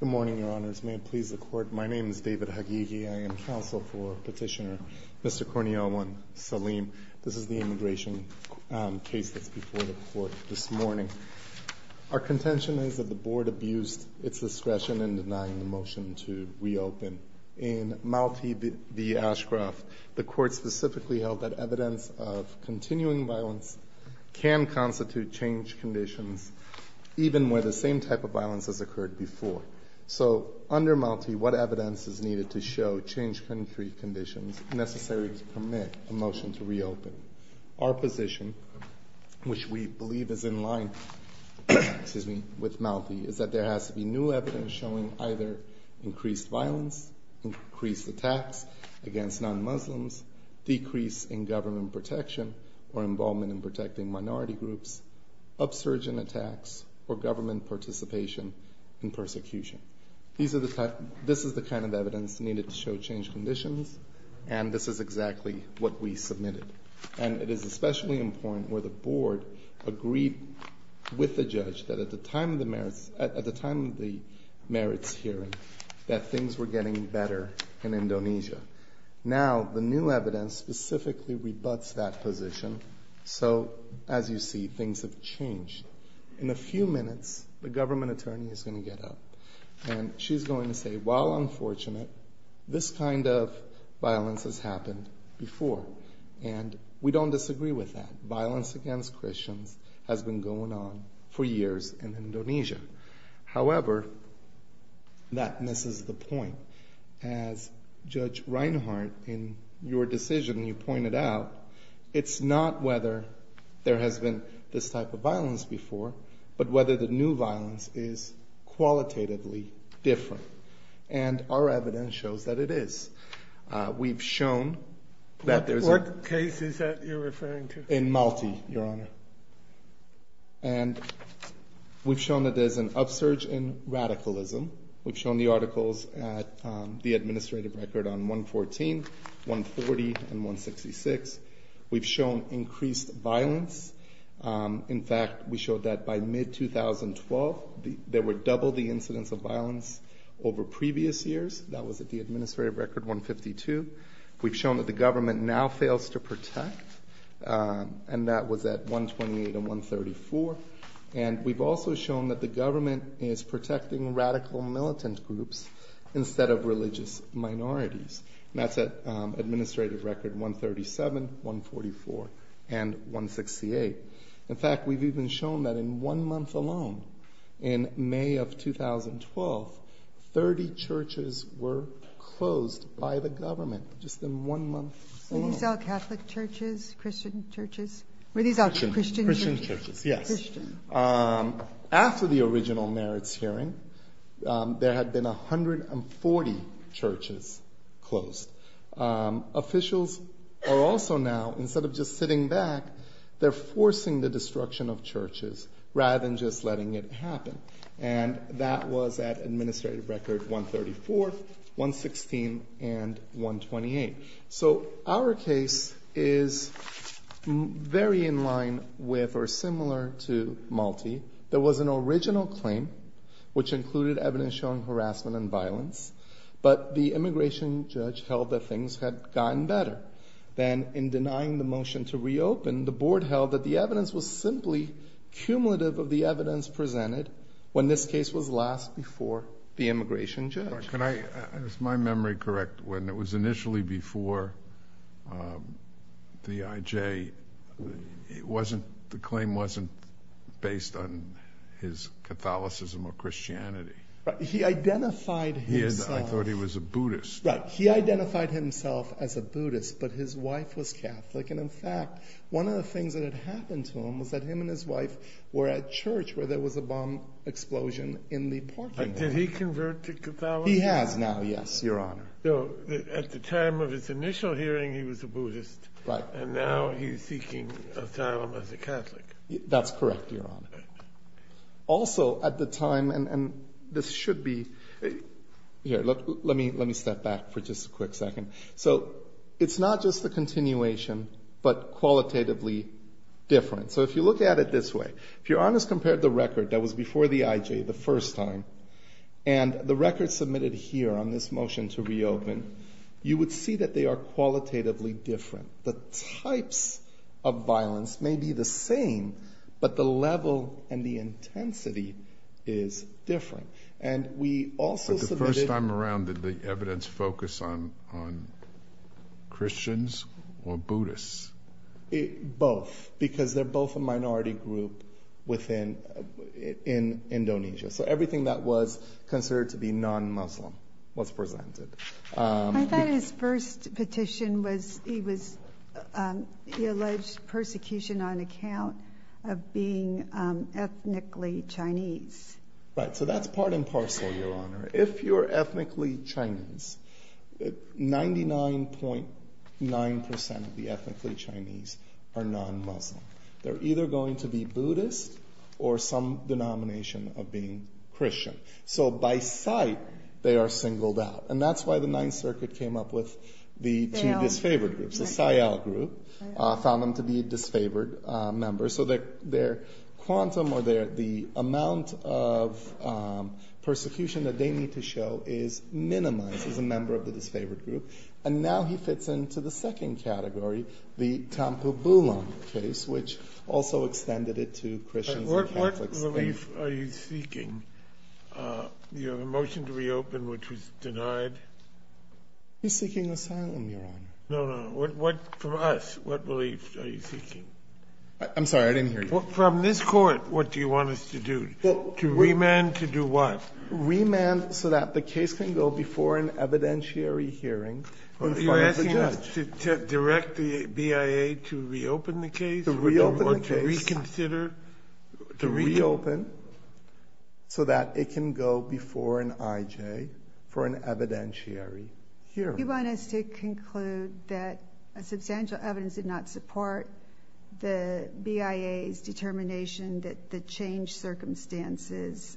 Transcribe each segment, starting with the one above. Good morning, Your Honors. May it please the Court, my name is David Hagighi. I am counsel for Petitioner Mr. Kurniawan Salim. This is the immigration case that's before the Court this morning. Our contention is that the Board abused its discretion in denying the motion to reopen. In Malti v. Ashcroft, the Court specifically held that evidence of continuing violence can constitute change conditions, even where the same type of violence has occurred before. So under Malti, what evidence is needed to show change conditions necessary to permit a motion to reopen? Our position, which we believe is in line with Malti, is that there has to be new evidence showing either increased violence, increased attacks against non-Muslims, decrease in government protection or involvement in protecting minority groups, upsurge in attacks or government participation in persecution. This is the kind of evidence needed to show change conditions, and this is exactly what we submitted. And it is especially important where the Board agreed with the judge that at the time of the merits hearing that things were getting better in Indonesia. Now the new evidence specifically rebuts that position. So as you see, things have changed. In a few minutes, the government attorney is going to get up, and she's going to say, while unfortunate, this kind of violence has happened before. And we don't disagree with that. Violence against Christians has been going on for years in Indonesia. However, that misses the point. As Judge Reinhardt, in your decision, you pointed out, it's not whether there has been this type of violence before, but whether the new violence is qualitatively different. And our evidence shows that it is. We've shown that there's a... What case is that you're referring to? In Malti, Your Honor. And we've shown that there's an upsurge in radicalism. We've shown the articles at the administrative record on 114, 140, and 166. We've shown increased violence. In fact, we showed that by mid-2012, there were double the incidents of violence over previous years. That was at the administrative record 152. We've shown that the government now fails to protect, and that was at 128 and 134. And we've also shown that the government is protecting radical militant groups instead of religious minorities. And that's at administrative record 137, 144, and 168. In fact, we've even shown that in one month alone, in May of 2012, 30 churches were closed by the government, just in one month alone. Were these all Catholic churches, Christian churches? Christian. Were these all Christian churches? Christian churches, yes. Christian. After the original merits hearing, there had been 140 churches closed. Officials are also now, instead of just sitting back, they're forcing the destruction of churches rather than just letting it happen. And that was at administrative record 134, 116, and 128. So our case is very in line with or similar to Malti. There was an original claim, which included evidence showing harassment and violence, but the immigration judge held that things had gotten better. Then, in denying the motion to reopen, the board held that the evidence was simply cumulative of the evidence presented when this case was last before the immigration judge. Can I, is my memory correct, when it was initially before the IJ, it wasn't, the claim wasn't based on his Catholicism or Christianity? He identified himself. I thought he was a Buddhist. Right. He identified himself as a Buddhist, but his wife was Catholic. And in fact, one of the things that had happened to him was that him and his wife were at church where there was a bomb explosion in the parking lot. Did he convert to Catholicism? He has now, yes, Your Honor. So at the time of his initial hearing, he was a Buddhist. Right. And now he's seeking asylum as a Catholic. That's correct, Your Honor. Also, at the time, and this should be, here, let me step back for just a quick second. So it's not just the continuation, but qualitatively different. So if you look at it this way, if Your Honor's compared the record that was before the IJ the first time, and the record submitted here on this motion to reopen, you would see that they are qualitatively different. The types of violence may be the same, but the level and the intensity is different. And we also submitted... Did he focus on Christians or Buddhists? Both, because they're both a minority group in Indonesia. So everything that was considered to be non-Muslim was presented. I thought his first petition was he alleged persecution on account of being ethnically Chinese. Right. So that's part and parcel, Your Honor. If you're ethnically Chinese, 99.9% of the ethnically Chinese are non-Muslim. They're either going to be Buddhist or some denomination of being Christian. So by sight, they are singled out. And that's why the Ninth Circuit came up with the two disfavored groups, the Sayal group, found them to be disfavored members. So their quantum or the amount of persecution that they need to show is minimized as a member of the disfavored group. And now he fits into the second category, the Thampu Bulon case, which also extended it to Christians and Catholics. What belief are you seeking? Your motion to reopen, which was denied? He's seeking asylum, Your Honor. No, no. From us, what belief are you seeking? I'm sorry. I didn't hear you. From this Court, what do you want us to do? Well, to remand to do what? Remand so that the case can go before an evidentiary hearing in front of the judge. Are you asking us to direct the BIA to reopen the case? To reopen the case. Or to reconsider? To reopen so that it can go before an IJ for an evidentiary hearing. You want us to conclude that substantial evidence did not support the BIA's determination that the change circumstances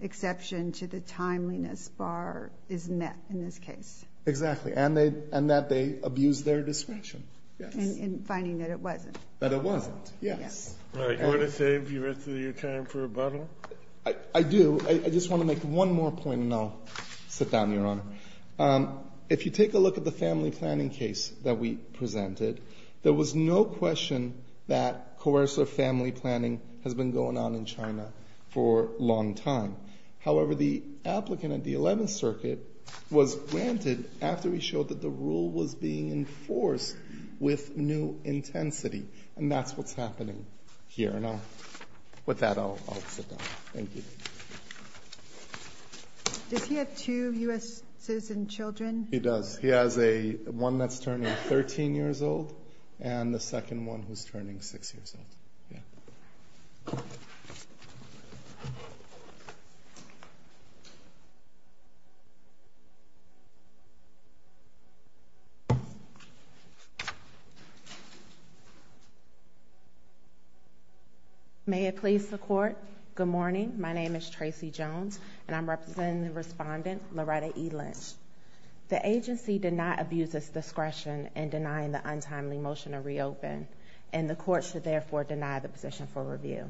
exception to the timeliness bar is met in this case. Exactly. And that they abused their discretion. Yes. In finding that it wasn't. That it wasn't. Yes. Right. You want to save the rest of your time for rebuttal? I do. I just want to make one more point, and I'll sit down, Your Honor. If you take a look at the family planning case that we presented, there was no question that coercive family planning has been going on in China for a long time. However, the applicant at the Eleventh Circuit was granted after he showed that the rule was being enforced with new intensity. And that's what's happening here. And with that, I'll sit down. Thank you. Does he have two U.S. citizen children? He does. He has one that's turning 13 years old and the second one who's turning 6 years old. Yeah. May it please the Court, good morning. My name is Tracy Jones, and I'm representing the respondent, Loretta E. Lynch. The agency did not abuse its discretion in denying the untimely motion to reopen, and the Court should therefore deny the position for review.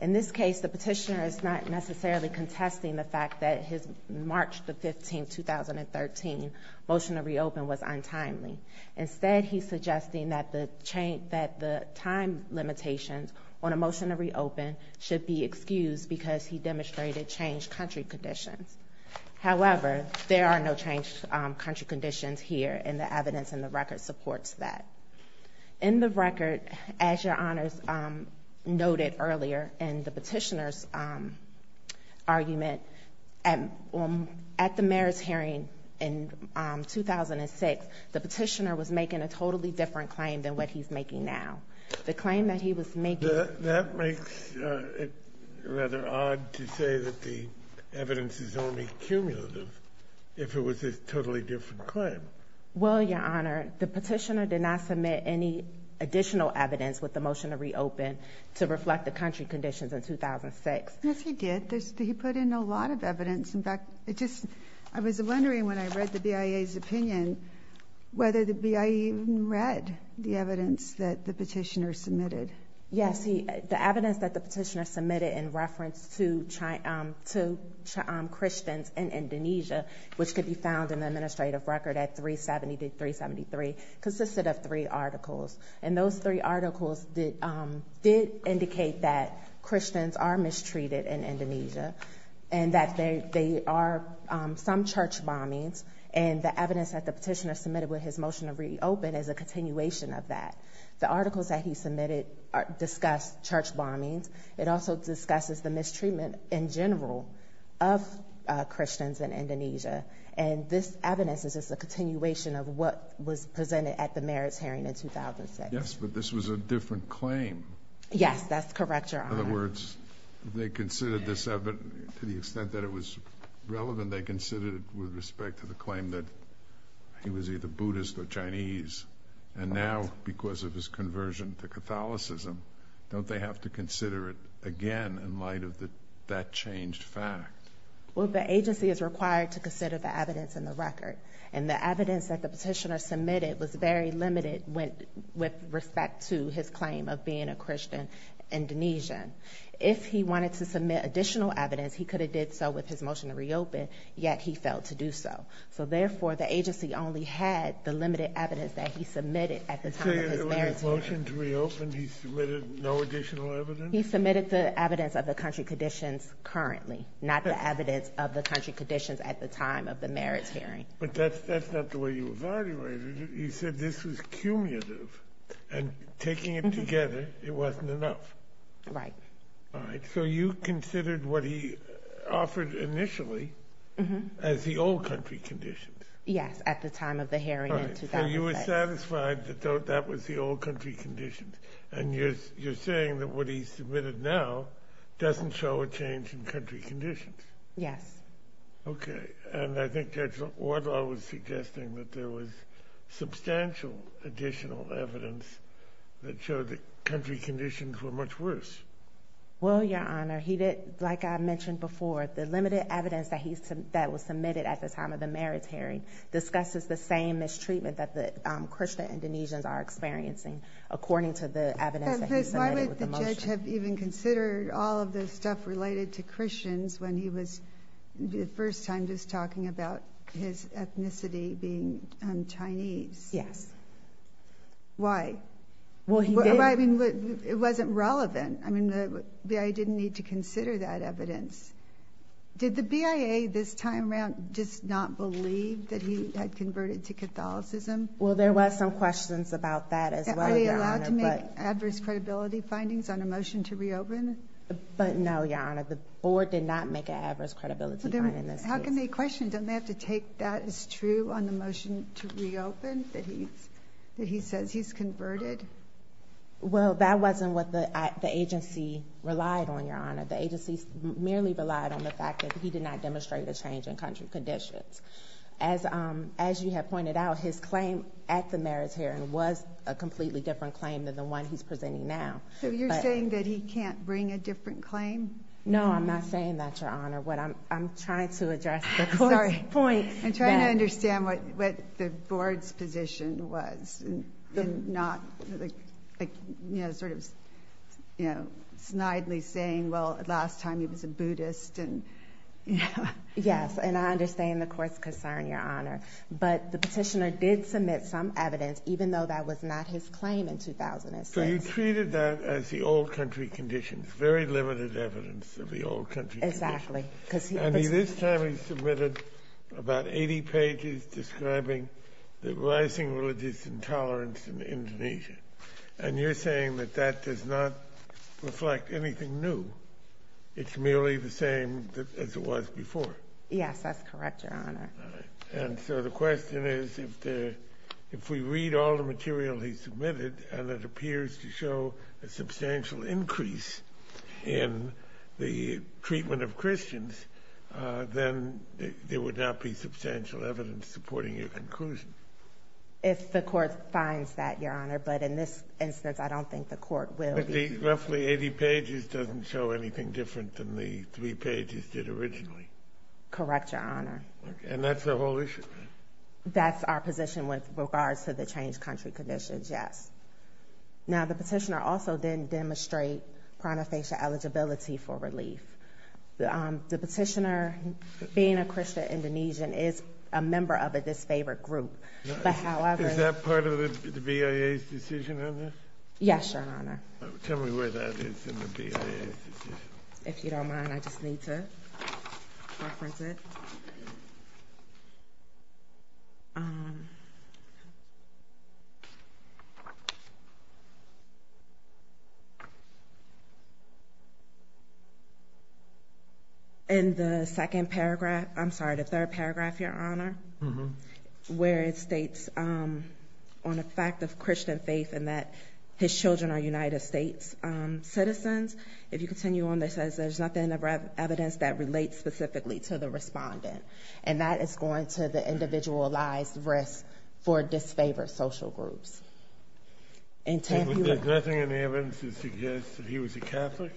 In this case, the petitioner is not necessarily contesting the fact that his March 15, 2013, motion to reopen was untimely. Instead, he's suggesting that the time limitations on a motion to reopen should be excused because he demonstrated changed country conditions. However, there are no changed country conditions here, and the evidence in the record supports that. In the record, as Your Honors noted earlier in the petitioner's argument, at the mayor's hearing in 2006, the petitioner was making a totally different claim than what he's making now. The claim that he was making — That makes it rather odd to say that the evidence is only cumulative if it was a totally different claim. Well, Your Honor, the petitioner did not submit any additional evidence with the motion to reopen to reflect the country conditions in 2006. Yes, he did. But he put in a lot of evidence. In fact, I was wondering when I read the BIA's opinion whether the BIA even read the evidence that the petitioner submitted. Yes. The evidence that the petitioner submitted in reference to Christians in Indonesia, which could be found in the administrative record at 370 to 373, consisted of three articles. And those three articles did indicate that Christians are mistreated in Indonesia and that there are some church bombings. And the evidence that the petitioner submitted with his motion to reopen is a continuation of that. The articles that he submitted discuss church bombings. It also discusses the mistreatment in general of Christians in Indonesia. And this evidence is just a continuation of what was presented at the merits hearing in 2006. Yes, but this was a different claim. Yes, that's correct, Your Honor. In other words, they considered this evidence, to the extent that it was relevant, they considered it with respect to the claim that he was either Buddhist or Chinese. And now, because of his conversion to Catholicism, don't they have to consider it again in light of that changed fact? Well, the agency is required to consider the evidence in the record. And the evidence that the petitioner submitted was very limited with respect to his claim of being a Christian Indonesian. If he wanted to submit additional evidence, he could have did so with his motion to reopen, yet he failed to do so. So, therefore, the agency only had the limited evidence that he submitted at the time of his merits hearing. So, with his motion to reopen, he submitted no additional evidence? He submitted the evidence of the country conditions currently, not the evidence of the country conditions at the time of the merits hearing. But that's not the way you evaluated it. You said this was cumulative, and taking it together, it wasn't enough. Right. All right. So you considered what he offered initially as the old country conditions? Yes, at the time of the hearing in 2006. All right. So you were satisfied that that was the old country conditions. And you're saying that what he submitted now doesn't show a change in country conditions? Yes. Okay. And I think Judge Wardlaw was suggesting that there was substantial additional evidence that showed that country conditions were much worse. Well, Your Honor, he did, like I mentioned before, the limited evidence that was submitted at the time of the merits hearing discusses the same mistreatment that the Christian Indonesians are experiencing, according to the evidence that he submitted with the motion. But why would the judge have even considered all of the stuff related to Christians when he was the first time just talking about his ethnicity being Chinese? Yes. Why? Well, he did. I mean, it wasn't relevant. Did the BIA this time around just not believe that he had converted to Catholicism? Well, there was some questions about that as well, Your Honor. Are they allowed to make adverse credibility findings on a motion to reopen? But no, Your Honor. The board did not make an adverse credibility finding in this case. How can they question? Don't they have to take that as true on the motion to reopen, that he says he's converted? Well, that wasn't what the agency relied on, Your Honor. The agency merely relied on the fact that he did not demonstrate a change in conditions. As you have pointed out, his claim at the merits hearing was a completely different claim than the one he's presenting now. So you're saying that he can't bring a different claim? No, I'm not saying that, Your Honor. What I'm trying to address at this point is that. What the board's position was and not, like, you know, sort of, you know, snidely saying, well, last time he was a Buddhist and, you know. Yes, and I understand the Court's concern, Your Honor. But the Petitioner did submit some evidence, even though that was not his claim in 2006. So he treated that as the old country conditions, very limited evidence of the old country conditions. Exactly. And this time he submitted about 80 pages describing the rising religious intolerance in Indonesia. And you're saying that that does not reflect anything new. It's merely the same as it was before. Yes, that's correct, Your Honor. And so the question is, if we read all the material he submitted and it appears to show a substantial increase in the treatment of Christians, then there would not be substantial evidence supporting your conclusion. If the Court finds that, Your Honor. But in this instance, I don't think the Court will. But the roughly 80 pages doesn't show anything different than the 3 pages did originally. Correct, Your Honor. And that's the whole issue? That's our position with regards to the changed country conditions, yes. Now, the Petitioner also didn't demonstrate prana-facial eligibility for relief. The Petitioner, being a Christian Indonesian, is a member of a disfavored group. Is that part of the BIA's decision on this? Yes, Your Honor. Tell me where that is in the BIA's decision. If you don't mind, I just need to reference it. In the second paragraph, I'm sorry, the third paragraph, Your Honor, where it states on the fact of Christian faith and that his children are United States citizens. If you continue on, it says there's nothing of evidence that relates specifically to the respondent. And that is going to the individualized risk for disfavored social groups. There's nothing in the evidence that suggests that he was a Catholic?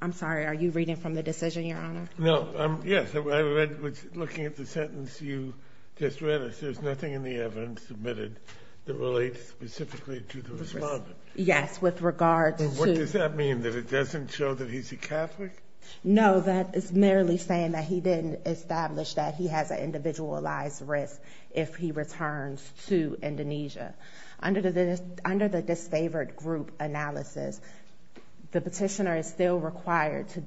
I'm sorry. Are you reading from the decision, Your Honor? No. Yes. I was looking at the sentence you just read. It says there's nothing in the evidence submitted that relates specifically to the respondent. Yes, with regards to... What does that mean? That it doesn't show that he's a Catholic? No, that is merely saying that he didn't establish that he has an individualized risk if he returns to Indonesia. Under the disfavored group analysis, the petitioner is still required to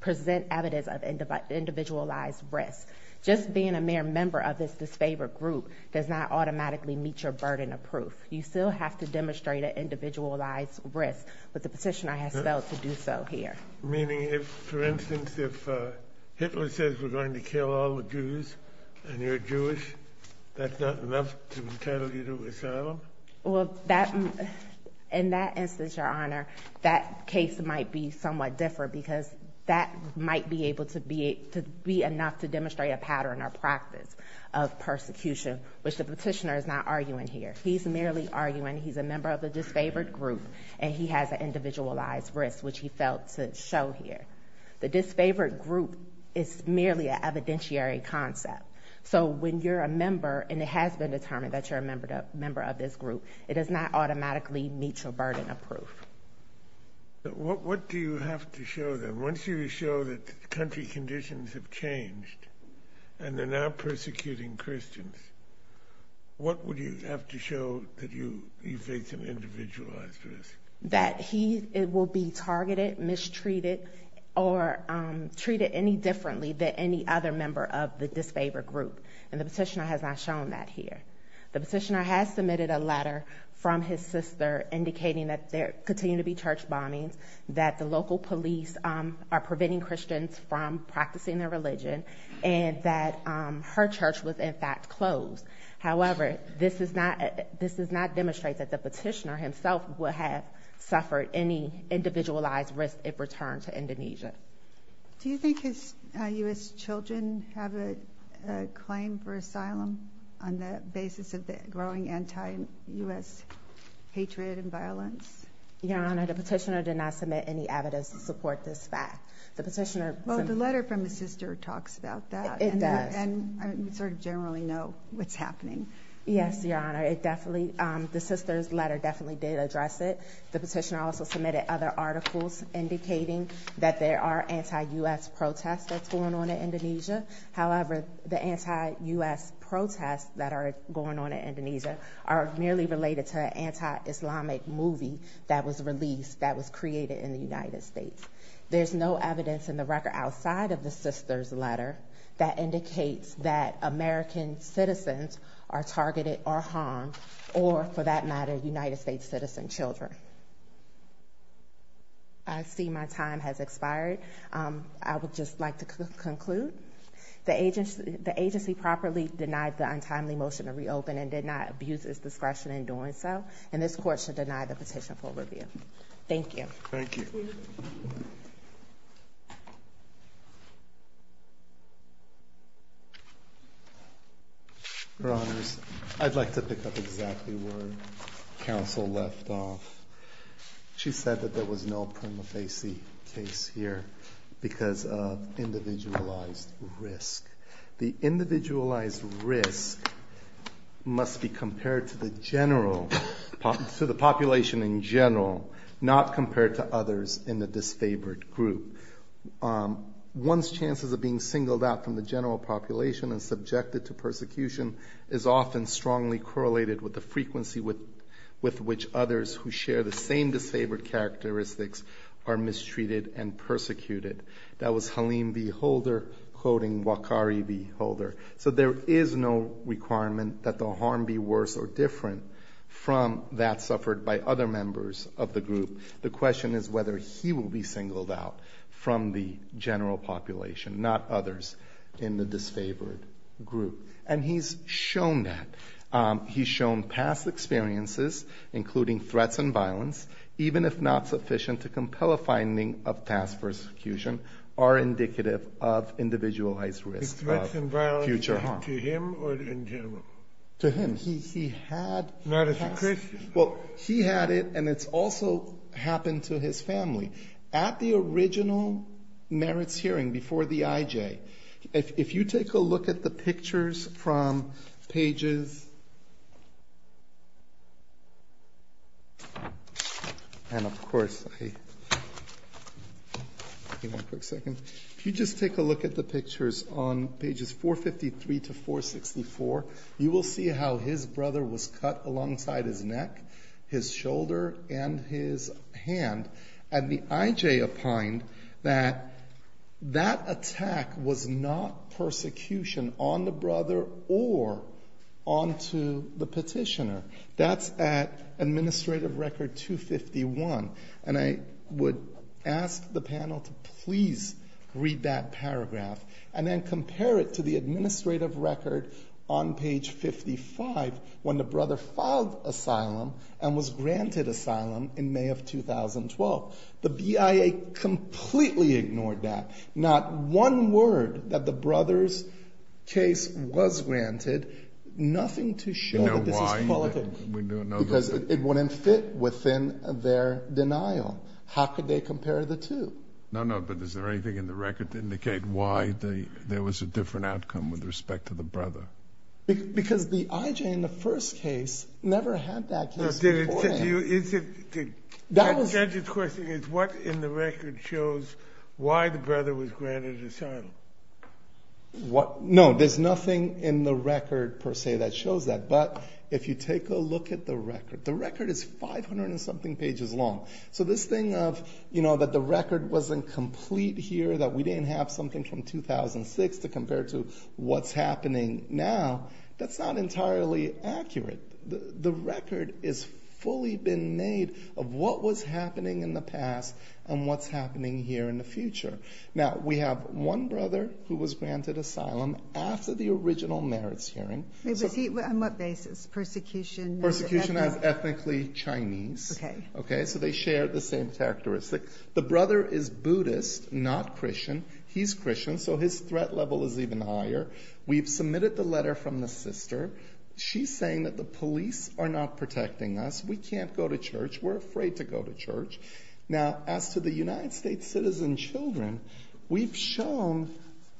present evidence of individualized risk. Just being a mere member of this disfavored group does not automatically meet your burden of proof. You still have to demonstrate an individualized risk, but the petitioner has failed to do so here. Meaning, for instance, if Hitler says we're going to kill all the Jews and you're Jewish, that's not enough to entitle you to asylum? Well, in that instance, Your Honor, that case might be somewhat different because that might be enough to demonstrate a pattern or practice of persecution, which the petitioner is not arguing here. He's merely arguing he's a member of the disfavored group and he has an individualized risk, which he failed to show here. The disfavored group is merely an evidentiary concept. So when you're a member and it has been determined that you're a member of this group, it does not automatically meet your burden of proof. What do you have to show them? Once you show that country conditions have changed and they're now persecuting Christians, what would you have to show that you face an individualized risk? That he will be targeted, mistreated, or treated any differently than any other member of the disfavored group. And the petitioner has not shown that here. The petitioner has submitted a letter from his sister indicating that there continue to be church bombings, that the local police are preventing Christians from practicing their religion, and that her church was in fact closed. However, this does not demonstrate that the petitioner himself would have suffered any individualized risk if returned to Indonesia. Do you think his U.S. children have a claim for asylum on the basis of the growing anti-U.S. hatred and violence? Your Honor, the petitioner did not submit any evidence to support this fact. Well, the letter from his sister talks about that. It does. And we sort of generally know what's happening. Yes, Your Honor. The sister's letter definitely did address it. The petitioner also submitted other articles indicating that there are anti-U.S. protests that's going on in Indonesia. However, the anti-U.S. protests that are going on in Indonesia are merely related to an anti-Islamic movie that was released, that was created in the United States. There's no evidence in the record outside of the sister's letter that indicates that American citizens are targeted or harmed, or, for that matter, United States citizen children. I see my time has expired. I would just like to conclude. The agency properly denied the untimely motion to reopen and did not abuse its discretion in doing so, and this Court should deny the petition for review. Thank you. Thank you. Thank you. Your Honors, I'd like to pick up exactly where counsel left off. She said that there was no prima facie case here because of individualized risk. The individualized risk must be compared to the population in general, not compared to others in the disfavored group. One's chances of being singled out from the general population and subjected to persecution is often strongly correlated with the frequency with which others who share the same disfavored characteristics are mistreated and persecuted. That was Halim V. Holder quoting Wakari V. Holder. So there is no requirement that the harm be worse or different from that suffered by other members of the group. The question is whether he will be singled out from the general population, not others in the disfavored group. And he's shown that. threats and violence, even if not sufficient to compel a finding of task persecution, are indicative of individualized risk of future harm. The threats and violence to him or in general? To him. He had the task. Not as a Christian. Well, he had it, and it's also happened to his family. At the original merits hearing before the IJ. If you take a look at the pictures from pages. And of course. One quick second. If you just take a look at the pictures on pages 453 to 464, you will see how his brother was cut alongside his neck, his shoulder, and his hand. And the IJ opined that that attack was not persecution on the brother or onto the petitioner. That's at administrative record 251. And I would ask the panel to please read that paragraph. And then compare it to the administrative record on page 55 when the brother filed asylum and was granted asylum in May of 2012. The BIA completely ignored that. Not one word that the brother's case was granted. Nothing to show that this is qualitative. Because it wouldn't fit within their denial. How could they compare the two? No, no. But is there anything in the record to indicate why there was a different outcome with respect to the brother? Because the IJ in the first case never had that case before him. The question is, what in the record shows why the brother was granted asylum? No, there's nothing in the record, per se, that shows that. But if you take a look at the record. The record is 500 and something pages long. So this thing of, you know, that the record wasn't complete here, that we didn't have something from 2006 to compare to what's happening now, that's not entirely accurate. The record is fully been made of what was happening in the past and what's happening here in the future. Now, we have one brother who was granted asylum after the original merits hearing. On what basis? Persecution? Persecution as ethnically Chinese. Okay. Okay, so they share the same characteristics. The brother is Buddhist, not Christian. He's Christian, so his threat level is even higher. We've submitted the letter from the sister. She's saying that the police are not protecting us. We can't go to church. We're afraid to go to church. Now, as to the United States citizen children, we've shown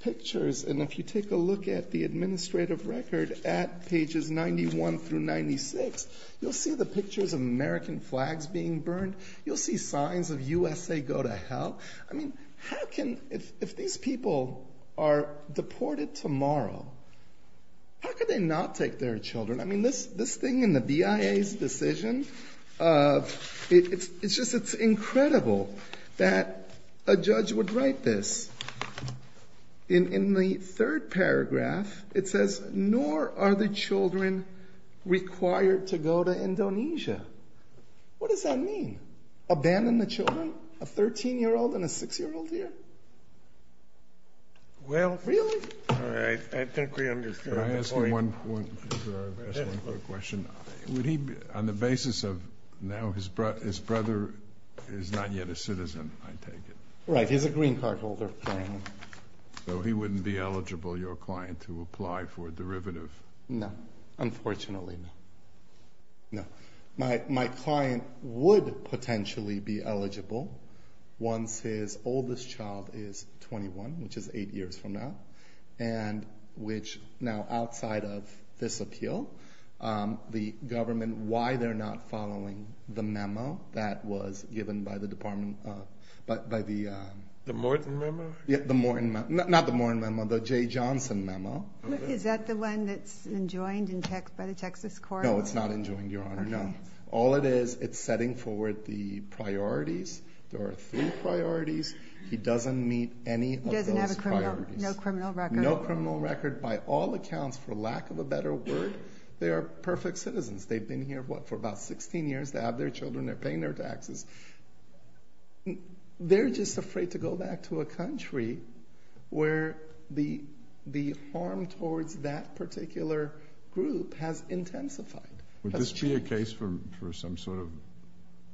pictures, and if you take a look at the administrative record at pages 91 through 96, you'll see the pictures of American flags being burned. You'll see signs of USA go to hell. I mean, how can, if these people are deported tomorrow, how can they not take their children? I mean, this thing in the BIA's decision, it's just incredible that a judge would write this. In the third paragraph, it says, nor are the children required to go to Indonesia. What does that mean? Abandon the children? A 13-year-old and a 6-year-old here? Really? All right. I think we understand. Can I ask you one quick question? Would he, on the basis of now his brother is not yet a citizen, I take it? Right. He's a green card holder. So he wouldn't be eligible, your client, to apply for a derivative? No. Unfortunately, no. My client would potentially be eligible once his oldest child is 21, which is 8 years from now, and which now outside of this appeal, the government, why they're not following the memo that was given by the department, by the- The Morton memo? Yeah, the Morton memo. Not the Morton memo, the J. Johnson memo. Is that the one that's enjoined by the Texas court? No, it's not enjoined, your Honor. No. All it is, it's setting forward the priorities. There are three priorities. He doesn't meet any of those priorities. He doesn't have a criminal record? No criminal record. No criminal record. By all accounts, for lack of a better word, they are perfect citizens. They've been here, what, for about 16 years. They have their children. They're paying their taxes. They're just afraid to go back to a country where the harm towards that particular group has intensified. Would this be a case for some sort of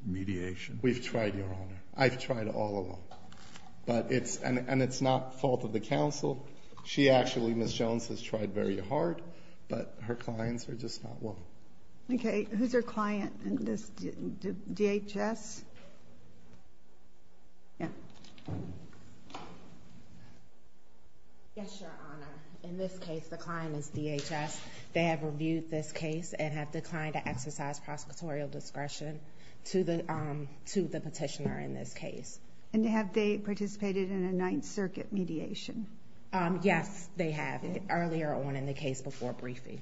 mediation? We've tried, your Honor. I've tried all along. And it's not fault of the counsel. She actually, Ms. Jones, has tried very hard, but her clients are just not willing. Okay. Who's her client in this, DHS? Yeah. Yes, your Honor. In this case, the client is DHS. They have reviewed this case and have declined to exercise prosecutorial discretion to the petitioner in this case. And have they participated in a Ninth Circuit mediation? Yes, they have, earlier on in the case before briefing.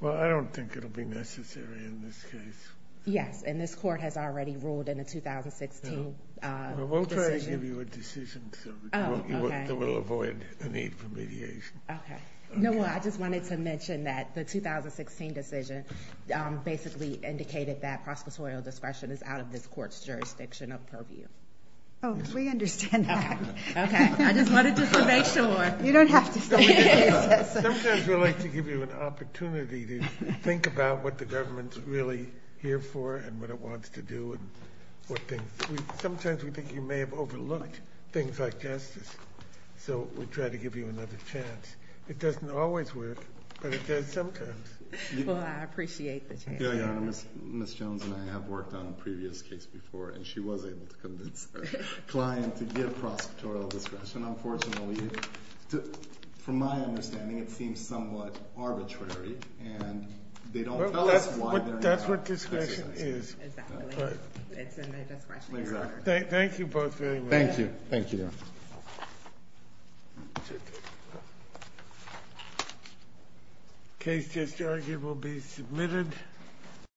Well, I don't think it will be necessary in this case. Yes. And this Court has already ruled in the 2016 decision. We'll try to give you a decision that will avoid a need for mediation. Okay. No, I just wanted to mention that the 2016 decision basically indicated that prosecutorial discretion is out of this Court's jurisdiction of purview. Oh, we understand that. Okay. I just wanted to make sure. You don't have to say that. Sometimes we like to give you an opportunity to think about what the government's really here for and what it wants to do. Sometimes we think you may have overlooked things like justice, so we try to give you another chance. It doesn't always work, but it does sometimes. Well, I appreciate the chance. Ms. Jones and I have worked on a previous case before, and she was able to convince her client to give prosecutorial discretion. Unfortunately, from my understanding, it seems somewhat arbitrary, and they don't tell us why they're not. That's what discretion is. Exactly. It's in their discretion. Exactly. Thank you both very much. Thank you. The case just argued will be submitted.